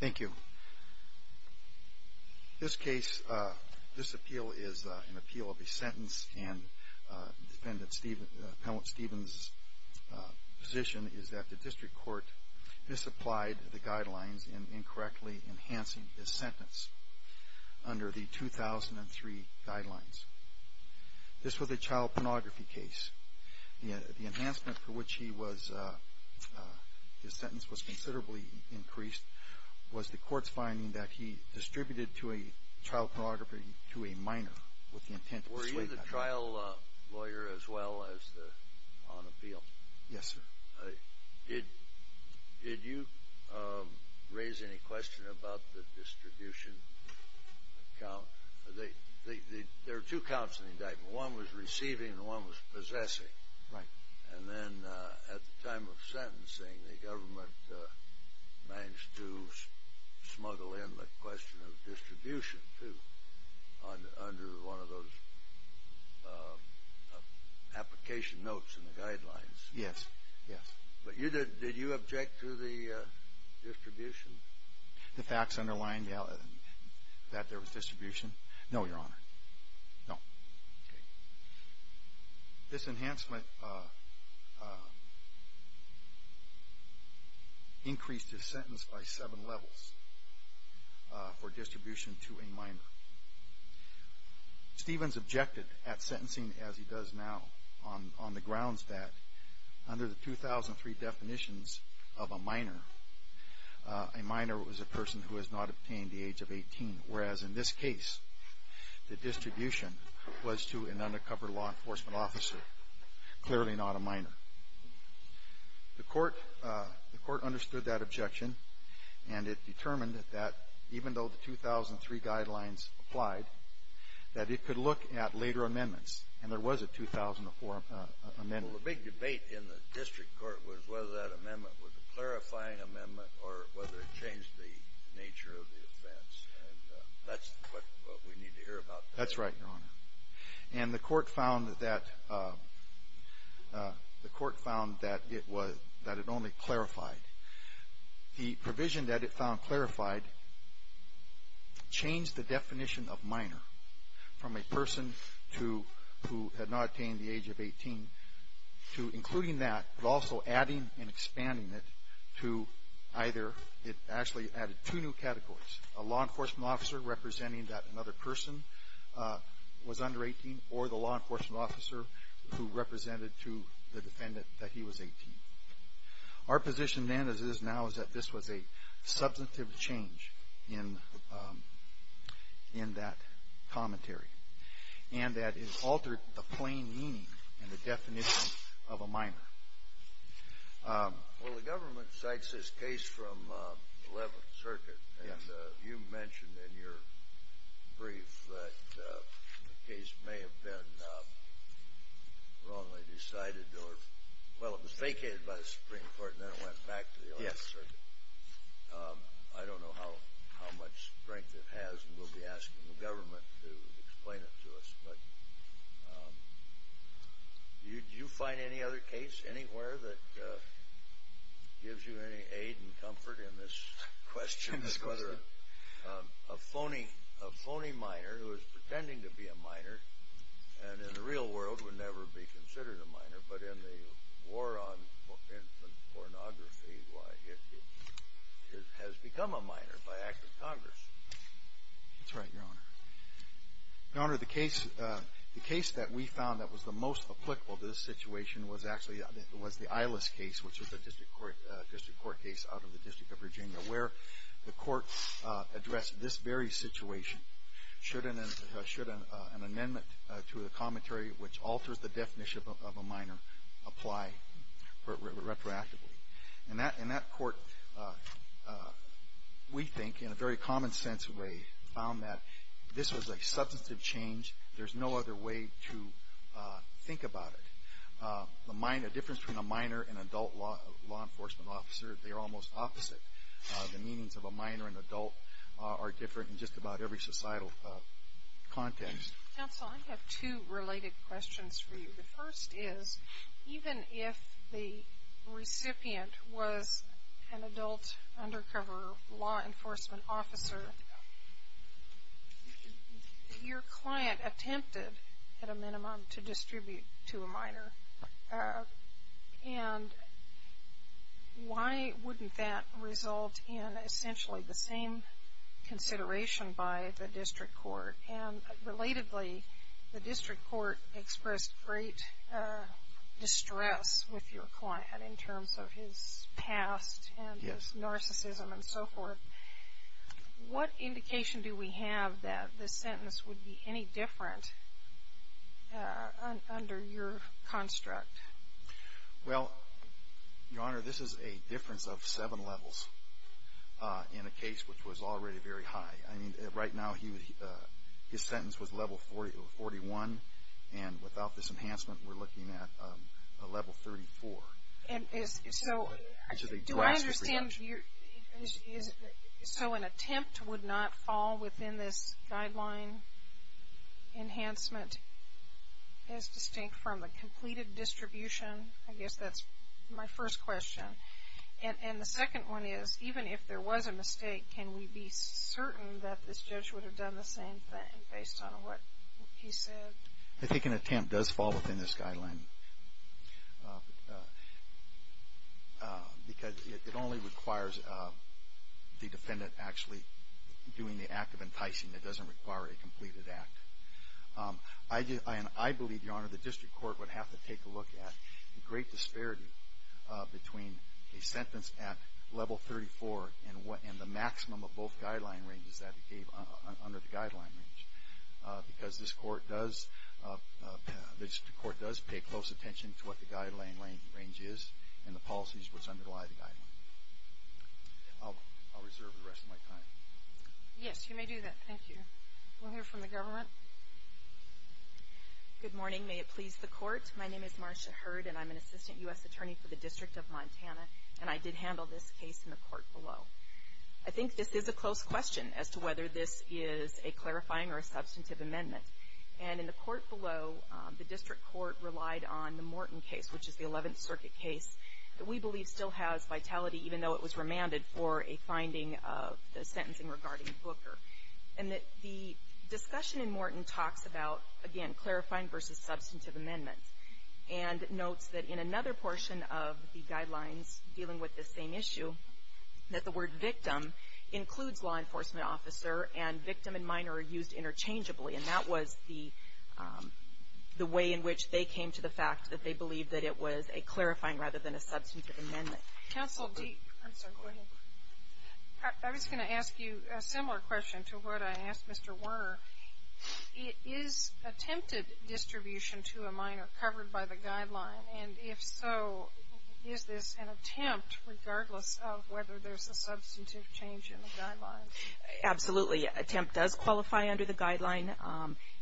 Thank you. This case, this appeal is an appeal of a sentence and defendant, Appellant Stevens' position is that the district court misapplied the guidelines in incorrectly enhancing his sentence under the 2003 guidelines. This was a child pornography case. The enhancement for which he was, his sentence was the court's finding that he distributed to a child pornography to a minor with the intent of persuading him. Were you the trial lawyer as well as on appeal? Yes, sir. Did you raise any question about the distribution count? There are two counts in the indictment. One was receiving and one was possessing. Right. And then at the time of sentencing, the government managed to smuggle in the question of distribution, too, under one of those application notes in the guidelines. Yes. Yes. But you did, did you object to the distribution? The facts underlined that there was distribution. No, Your Honor. No. This enhancement increased his sentence by seven levels for distribution to a minor. Stevens objected at sentencing as he does now on the grounds that under the 2003 definitions of a minor, a minor was a minor. As in this case, the distribution was to an undercover law enforcement officer, clearly not a minor. The court understood that objection, and it determined that even though the 2003 guidelines applied, that it could look at later amendments, and there was a 2004 amendment. Well, the big debate in the district court was whether that amendment was a clarifying amendment or whether it changed the definition of a minor. That's what we need to hear about. That's right, Your Honor. And the court found that it was, that it only clarified. The provision that it found clarified changed the definition of minor from a person to, who had not attained the age of 18, to including that, but also adding and expanding it to either, it actually added two new categories, a law enforcement officer representing that another person was under 18, or the law enforcement officer who represented to the defendant that he was 18. Our position then, as it is now, is that this was a substantive change in that commentary, and that it altered the plain meaning and the definition of a minor. Well, the government cites this case from 11th Circuit, and you mentioned in your brief that the case may have been wrongly decided, or, well, it was vacated by the Supreme Court, and then it went back to the 11th Circuit. I don't know how much strength it has, and we'll be asking the Do you find any other case anywhere that gives you any aid and comfort in this question, whether a phony minor who is pretending to be a minor, and in the real world would never be considered a minor, but in the war on infant pornography, why, it has become a minor by act of Congress. That's right, Your Honor. Your Honor, the case that we found that was the most applicable to this situation was actually the Ilis case, which was a district court case out of the District of Virginia, where the court addressed this very situation, should an amendment to the commentary which alters the definition of a minor apply retroactively. And that court, we think, in a very common sense way, found that this was a substantive change. There's no other way to think about it. The difference between a minor and adult law enforcement officer, they're almost opposite. The meanings of a minor and adult are different in just about every societal context. Counsel, I have two related questions for you. The first is, even if the recipient was an adult undercover law enforcement officer, your client attempted, at a minimum, to distribute to a minor. And why wouldn't that result in, essentially, the same consideration by the district court? And, relatively, the district court expressed great distress with your client, in terms of his past and his narcissism and so forth. What indication do we have that this sentence would be any different under your construct? Well, Your Honor, this is a difference of seven levels, in a case which was already very high. I mean, right now, his sentence was level 41, and without this enhancement, we're looking at level 34. And so, do I understand, so an attempt would not fall within this guideline enhancement, as distinct from the completed distribution? I guess that's my first question. And the second one is, even if there was a mistake, can we be certain that this judge would have done the same thing, based on what he said? I think an attempt does fall within this guideline. Because it only requires the defendant actually doing the act of enticing. It doesn't require a completed act. I believe, Your Honor, the district court would have to take a look at the great disparity between a sentence at level 34, and the maximum of both guideline ranges that it gave under the guideline range. Because this court does pay close attention to what the guideline range is, and the policies which underlie the guideline. I'll reserve the rest of my time. Yes, you may do that. Thank you. We'll hear from the government. Good morning. May it please the court. My name is Marcia Hurd, and I'm an assistant U.S. attorney for the District of Montana. And I did handle this case in the court below. I think this is a close question, as to whether this is a clarifying or a substantive amendment. And in the court below, the district court relied on the Morton case, which is the 11th Circuit case, that we believe still has vitality, even though it was remanded, for a finding of the sentencing regarding Booker. And the discussion in Morton talks about, again, clarifying versus substantive amendments. And notes that in another portion of the guidelines dealing with this same issue, that the word victim includes law enforcement officer, and victim and minor are used interchangeably. And that was the way in which they came to the fact that they believed that it was a clarifying rather than a substantive amendment. Counsel, I'm sorry. Go ahead. I was going to ask you a similar question to what I asked Mr. Werner. It is attempted distribution to a minor covered by the guideline. And if so, is this an attempt, regardless of whether there's a substantive change in the guidelines? Absolutely. An attempt does qualify under the guideline.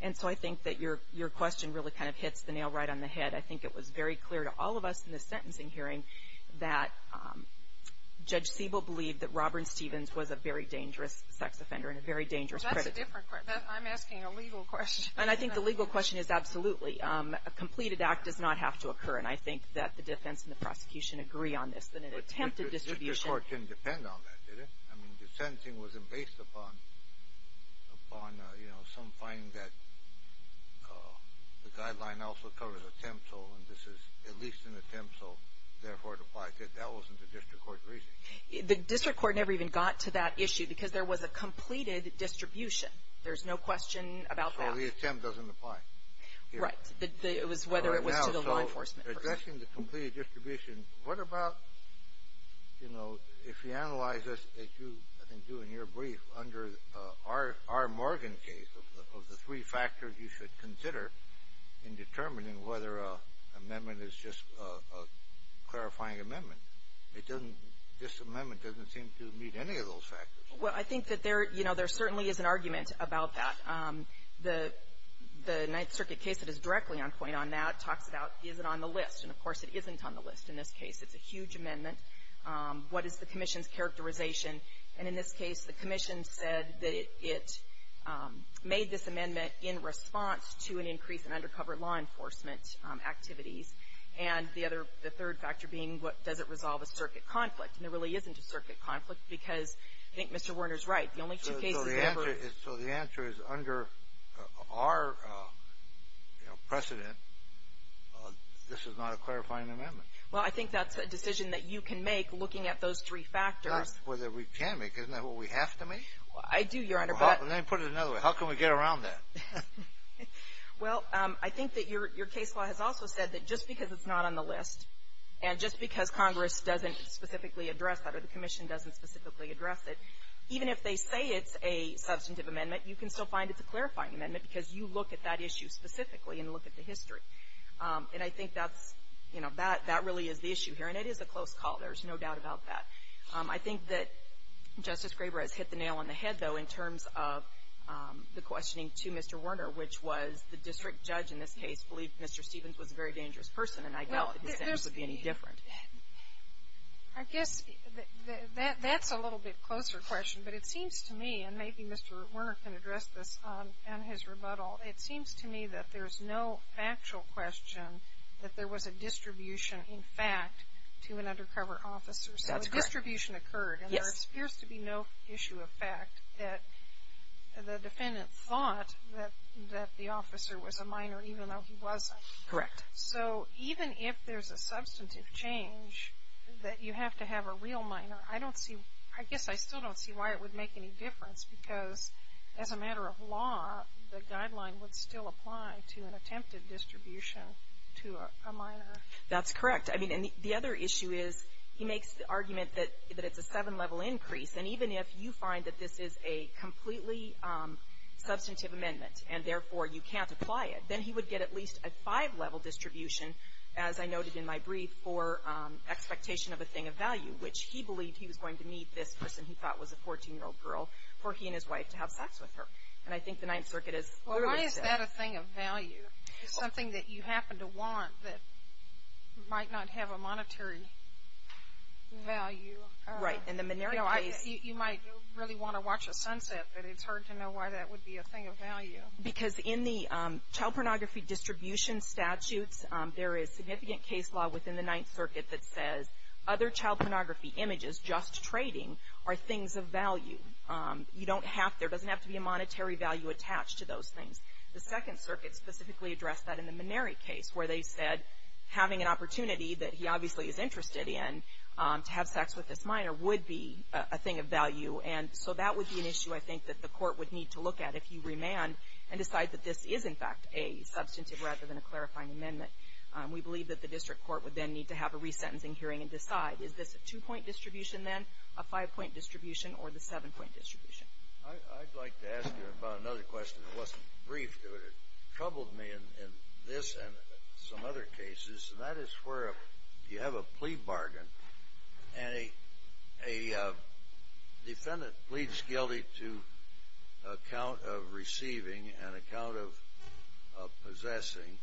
And so I think that your question really kind of hits the nail right on the head. I think it was very clear to all of us in the sentencing hearing that Judge Siebel believed that Robert Stevens was a very dangerous sex offender and a very dangerous critic. That's a different question. I'm asking a legal question. And I think the legal question is absolutely. A completed act does not have to occur. And I think that the defense and the prosecution agree on this. That an attempted distribution – But your court didn't depend on that, did it? I mean, the sentencing wasn't based upon – upon, you know, some finding that the guideline also covers attempt and this is at least an attempt, so therefore it applies. That wasn't the district court's reasoning. The district court never even got to that issue because there was a completed distribution. There's no question about that. So the attempt doesn't apply. Right. It was whether it was to the law enforcement. Now, so addressing the completed distribution, what about, you know, if you analyze this as you, I think, do in your brief under our Morgan case of the three factors you should consider in determining whether an amendment is just a clarifying amendment? It doesn't – this amendment doesn't seem to meet any of those factors. Well, I think that there, you know, there certainly is an argument about that. The Ninth Circuit case that is directly on point on that talks about is it on the list. And, of course, it isn't on the list in this case. It's a huge amendment. What is the commission's characterization? And in this case, the commission said that it made this amendment in response to an increase in undercover law enforcement activities. And the other – the third factor being, does it resolve a circuit conflict? And there really isn't a circuit conflict because I think Mr. Werner is right. The only two cases ever – So the answer is under our precedent, this is not a clarifying amendment. Well, I think that's a decision that you can make looking at those three factors. Not whether we can make. Isn't that what we have to make? I do, Your Honor. Well, let me put it another way. How can we get around that? Well, I think that your case law has also said that just because it's not on the list and just because Congress doesn't specifically address that or the commission doesn't specifically address it, even if they say it's a substantive amendment, you can still find it's a clarifying amendment because you look at that issue specifically and look at the history. And I think that's, you know, that really is the issue here. And it is a close call. There's no doubt about that. I think that Justice Graber has hit the nail on the head, though, in terms of the questioning to Mr. Werner, which was the district judge in this case believed Mr. Stevens was a very dangerous person and I doubt that his sentence would be any different. I guess that's a little bit closer question, but it seems to me, and maybe Mr. Werner can address this on his rebuttal, it seems to me that there's no factual question that there was a distribution, in fact, to an undercover officer. So a distribution occurred and there appears to be no issue of fact that the defendant thought that the officer was a minor, even though he wasn't. So even if there's a substantive change that you have to have a real minor, I don't see, I guess I still don't see why it would make any difference because as a matter of law, the guideline would still apply to an attempted distribution to a minor. That's correct. I mean, and the other issue is he makes the argument that it's a seven-level increase. And even if you find that this is a completely substantive amendment and therefore you can't apply it, then he would get at least a five-level distribution, as I noted in my brief, for expectation of a thing of value, which he believed he was going to meet this person he thought was a 14-year-old girl for he and his wife to have sex with her. And I think the Ninth Circuit has clearly said that. Well, why is that a thing of value? It's something that you happen to want that might not have a monetary value. Right. And the minority case. You might really want to watch a sunset, but it's hard to know why that would be a thing of value. Because in the child pornography distribution statutes, there is significant case law within the Ninth Circuit that says other child pornography images, just trading, are things of value. You don't have to, there doesn't have to be a monetary value attached to those things. The Second Circuit specifically addressed that in the minority case, where they said having an opportunity that he obviously is interested in to have sex with this minor would be a thing of value. And so that would be an issue, I think, that the court would need to look at if you remand and decide that this is, in fact, a substantive rather than a clarifying amendment. We believe that the district court would then need to have a resentencing hearing and decide, is this a two-point distribution, then, a five-point distribution, or the seven-point distribution? I'd like to ask you about another question that wasn't briefed. It troubled me in this and some other cases, and that is where you have a plea bargain, and a defendant pleads guilty to a count of receiving and a count of possessing,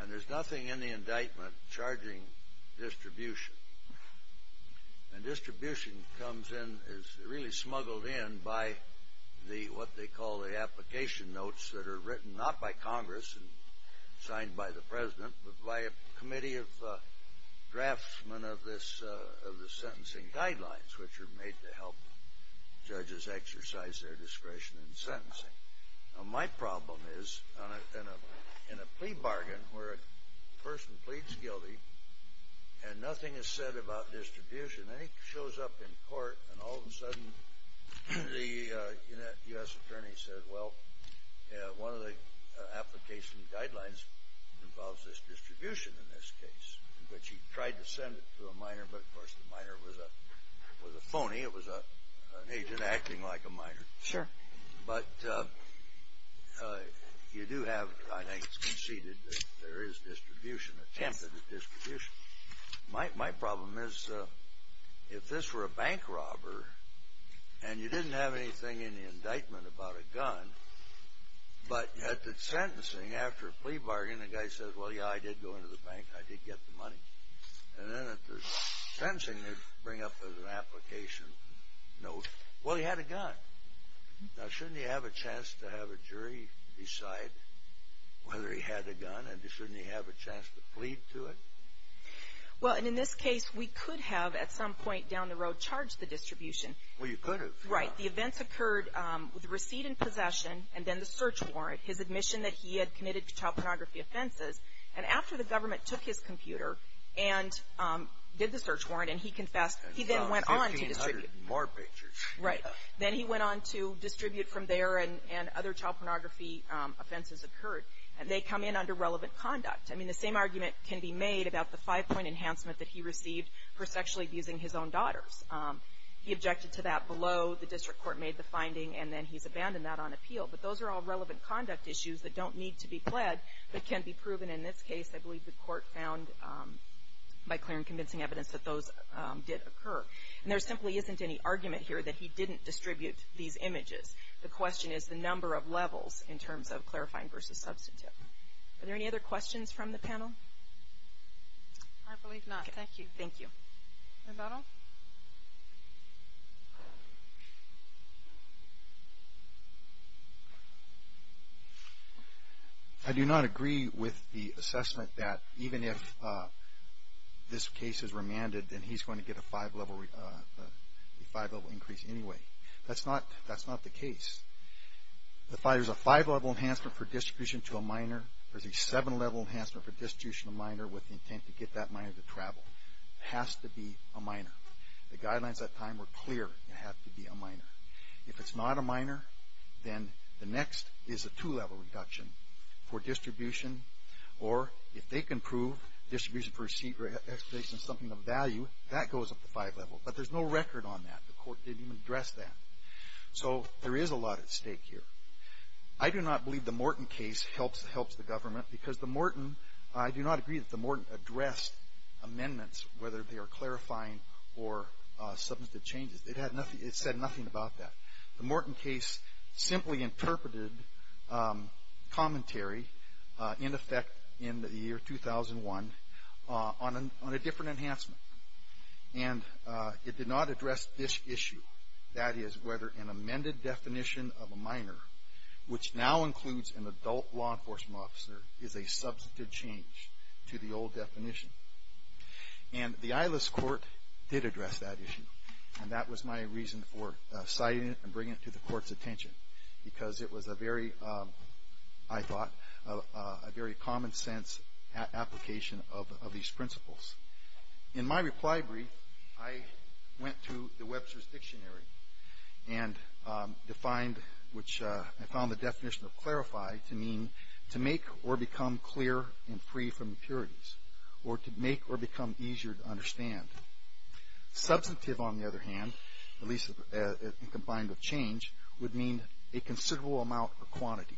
and there's nothing in the indictment charging distribution. And distribution comes in, is really smuggled in, by what they call the application notes that are written not by Congress and signed by the president, but by a committee of draftsmen of the sentencing guidelines, which are made to help judges exercise their discretion in sentencing. Now, my problem is in a plea bargain where a person pleads guilty and nothing is said about distribution, and he shows up in court, and all of a sudden, the U.S. attorney said, well, one of the application guidelines involves this distribution in this case, which he tried to send it to a minor, but of course, the minor was a phony. It was an agent acting like a minor. Sure. But you do have, I think it's conceded, that there is distribution, attempted distribution. My problem is if this were a bank robber and you didn't have anything in the indictment about a gun, but at the sentencing, after a plea bargain, the guy says, well, yeah, I did go into the bank, I did get the money. And then at the sentencing, they bring up an application note, well, he had a gun. Now, shouldn't he have a chance to have a jury decide whether he had a gun, and shouldn't he have a chance to plead to it? Well, and in this case, we could have, at some point down the road, charged the distribution. Well, you could have. Right. The events occurred with the receipt and possession, and then the search warrant, his admission that he had committed child pornography offenses. And after the government took his computer and did the search warrant, and he confessed, he then went on to distribute. And about 1,500 more pictures. Right. Then he went on to distribute from there, and other child pornography offenses occurred. They come in under relevant conduct. I mean, the same argument can be made about the five-point enhancement that he received for sexually abusing his own daughters. He objected to that below. The district court made the finding, and then he's abandoned that on appeal. But those are all relevant conduct issues that don't need to be pled, but can be proven. In this case, I believe the court found, by clear and convincing evidence, that those did occur. And there simply isn't any argument here that he didn't distribute these images. The question is the number of levels, in terms of clarifying versus substantive. Are there any other questions from the panel? I believe not. Thank you. Thank you. Roberto? I do not agree with the assessment that even if this case is remanded, then he's going to get a five-level increase anyway. That's not the case. If there's a five-level enhancement for distribution to a minor, there's a seven-level enhancement for distribution to a minor with the intent to get that minor to travel. It has to be a minor. The guidelines at that time were clear. It had to be a minor. If it's not a minor, then the next is a two-level reduction for distribution. Or if they can prove distribution for receipt or expedition is something of value, that goes up to five levels. But there's no record on that. The court didn't even address that. So there is a lot at stake here. I do not believe the Morton case helps the government because the Morton, I do not agree that the Morton addressed amendments, whether they are clarifying or substantive changes. It said nothing about that. The Morton case simply interpreted commentary in effect in the year 2001 on a different enhancement. And it did not address this issue. That is whether an amended definition of a minor, which now includes an adult law enforcement officer, is a substantive change to the old definition. And the Ilis court did address that issue. And that was my reason for citing it and bringing it to the court's attention. Because it was a very, I thought, a very common sense application of these principles. In my reply brief, I went to the Webster's Dictionary and defined, which I found the definition of clarify to mean to make or become clear and free from impurities, or to make or become easier to understand. Substantive, on the other hand, at least combined with change, would mean a considerable amount of quantity.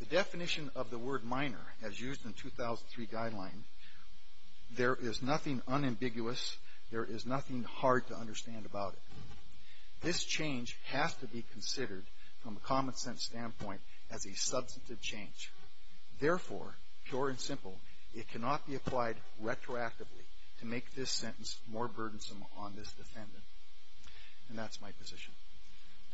The definition of the word minor, as used in 2003 guideline, there is nothing unambiguous, there is nothing hard to understand about it. This change has to be considered, from a common sense standpoint, as a substantive change. Therefore, pure and simple, it cannot be applied retroactively to make this sentence more burdensome on this defendant, and that's my position.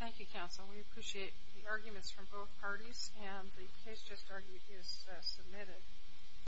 Thank you, counsel. We appreciate the arguments from both parties, and the case just argued is submitted.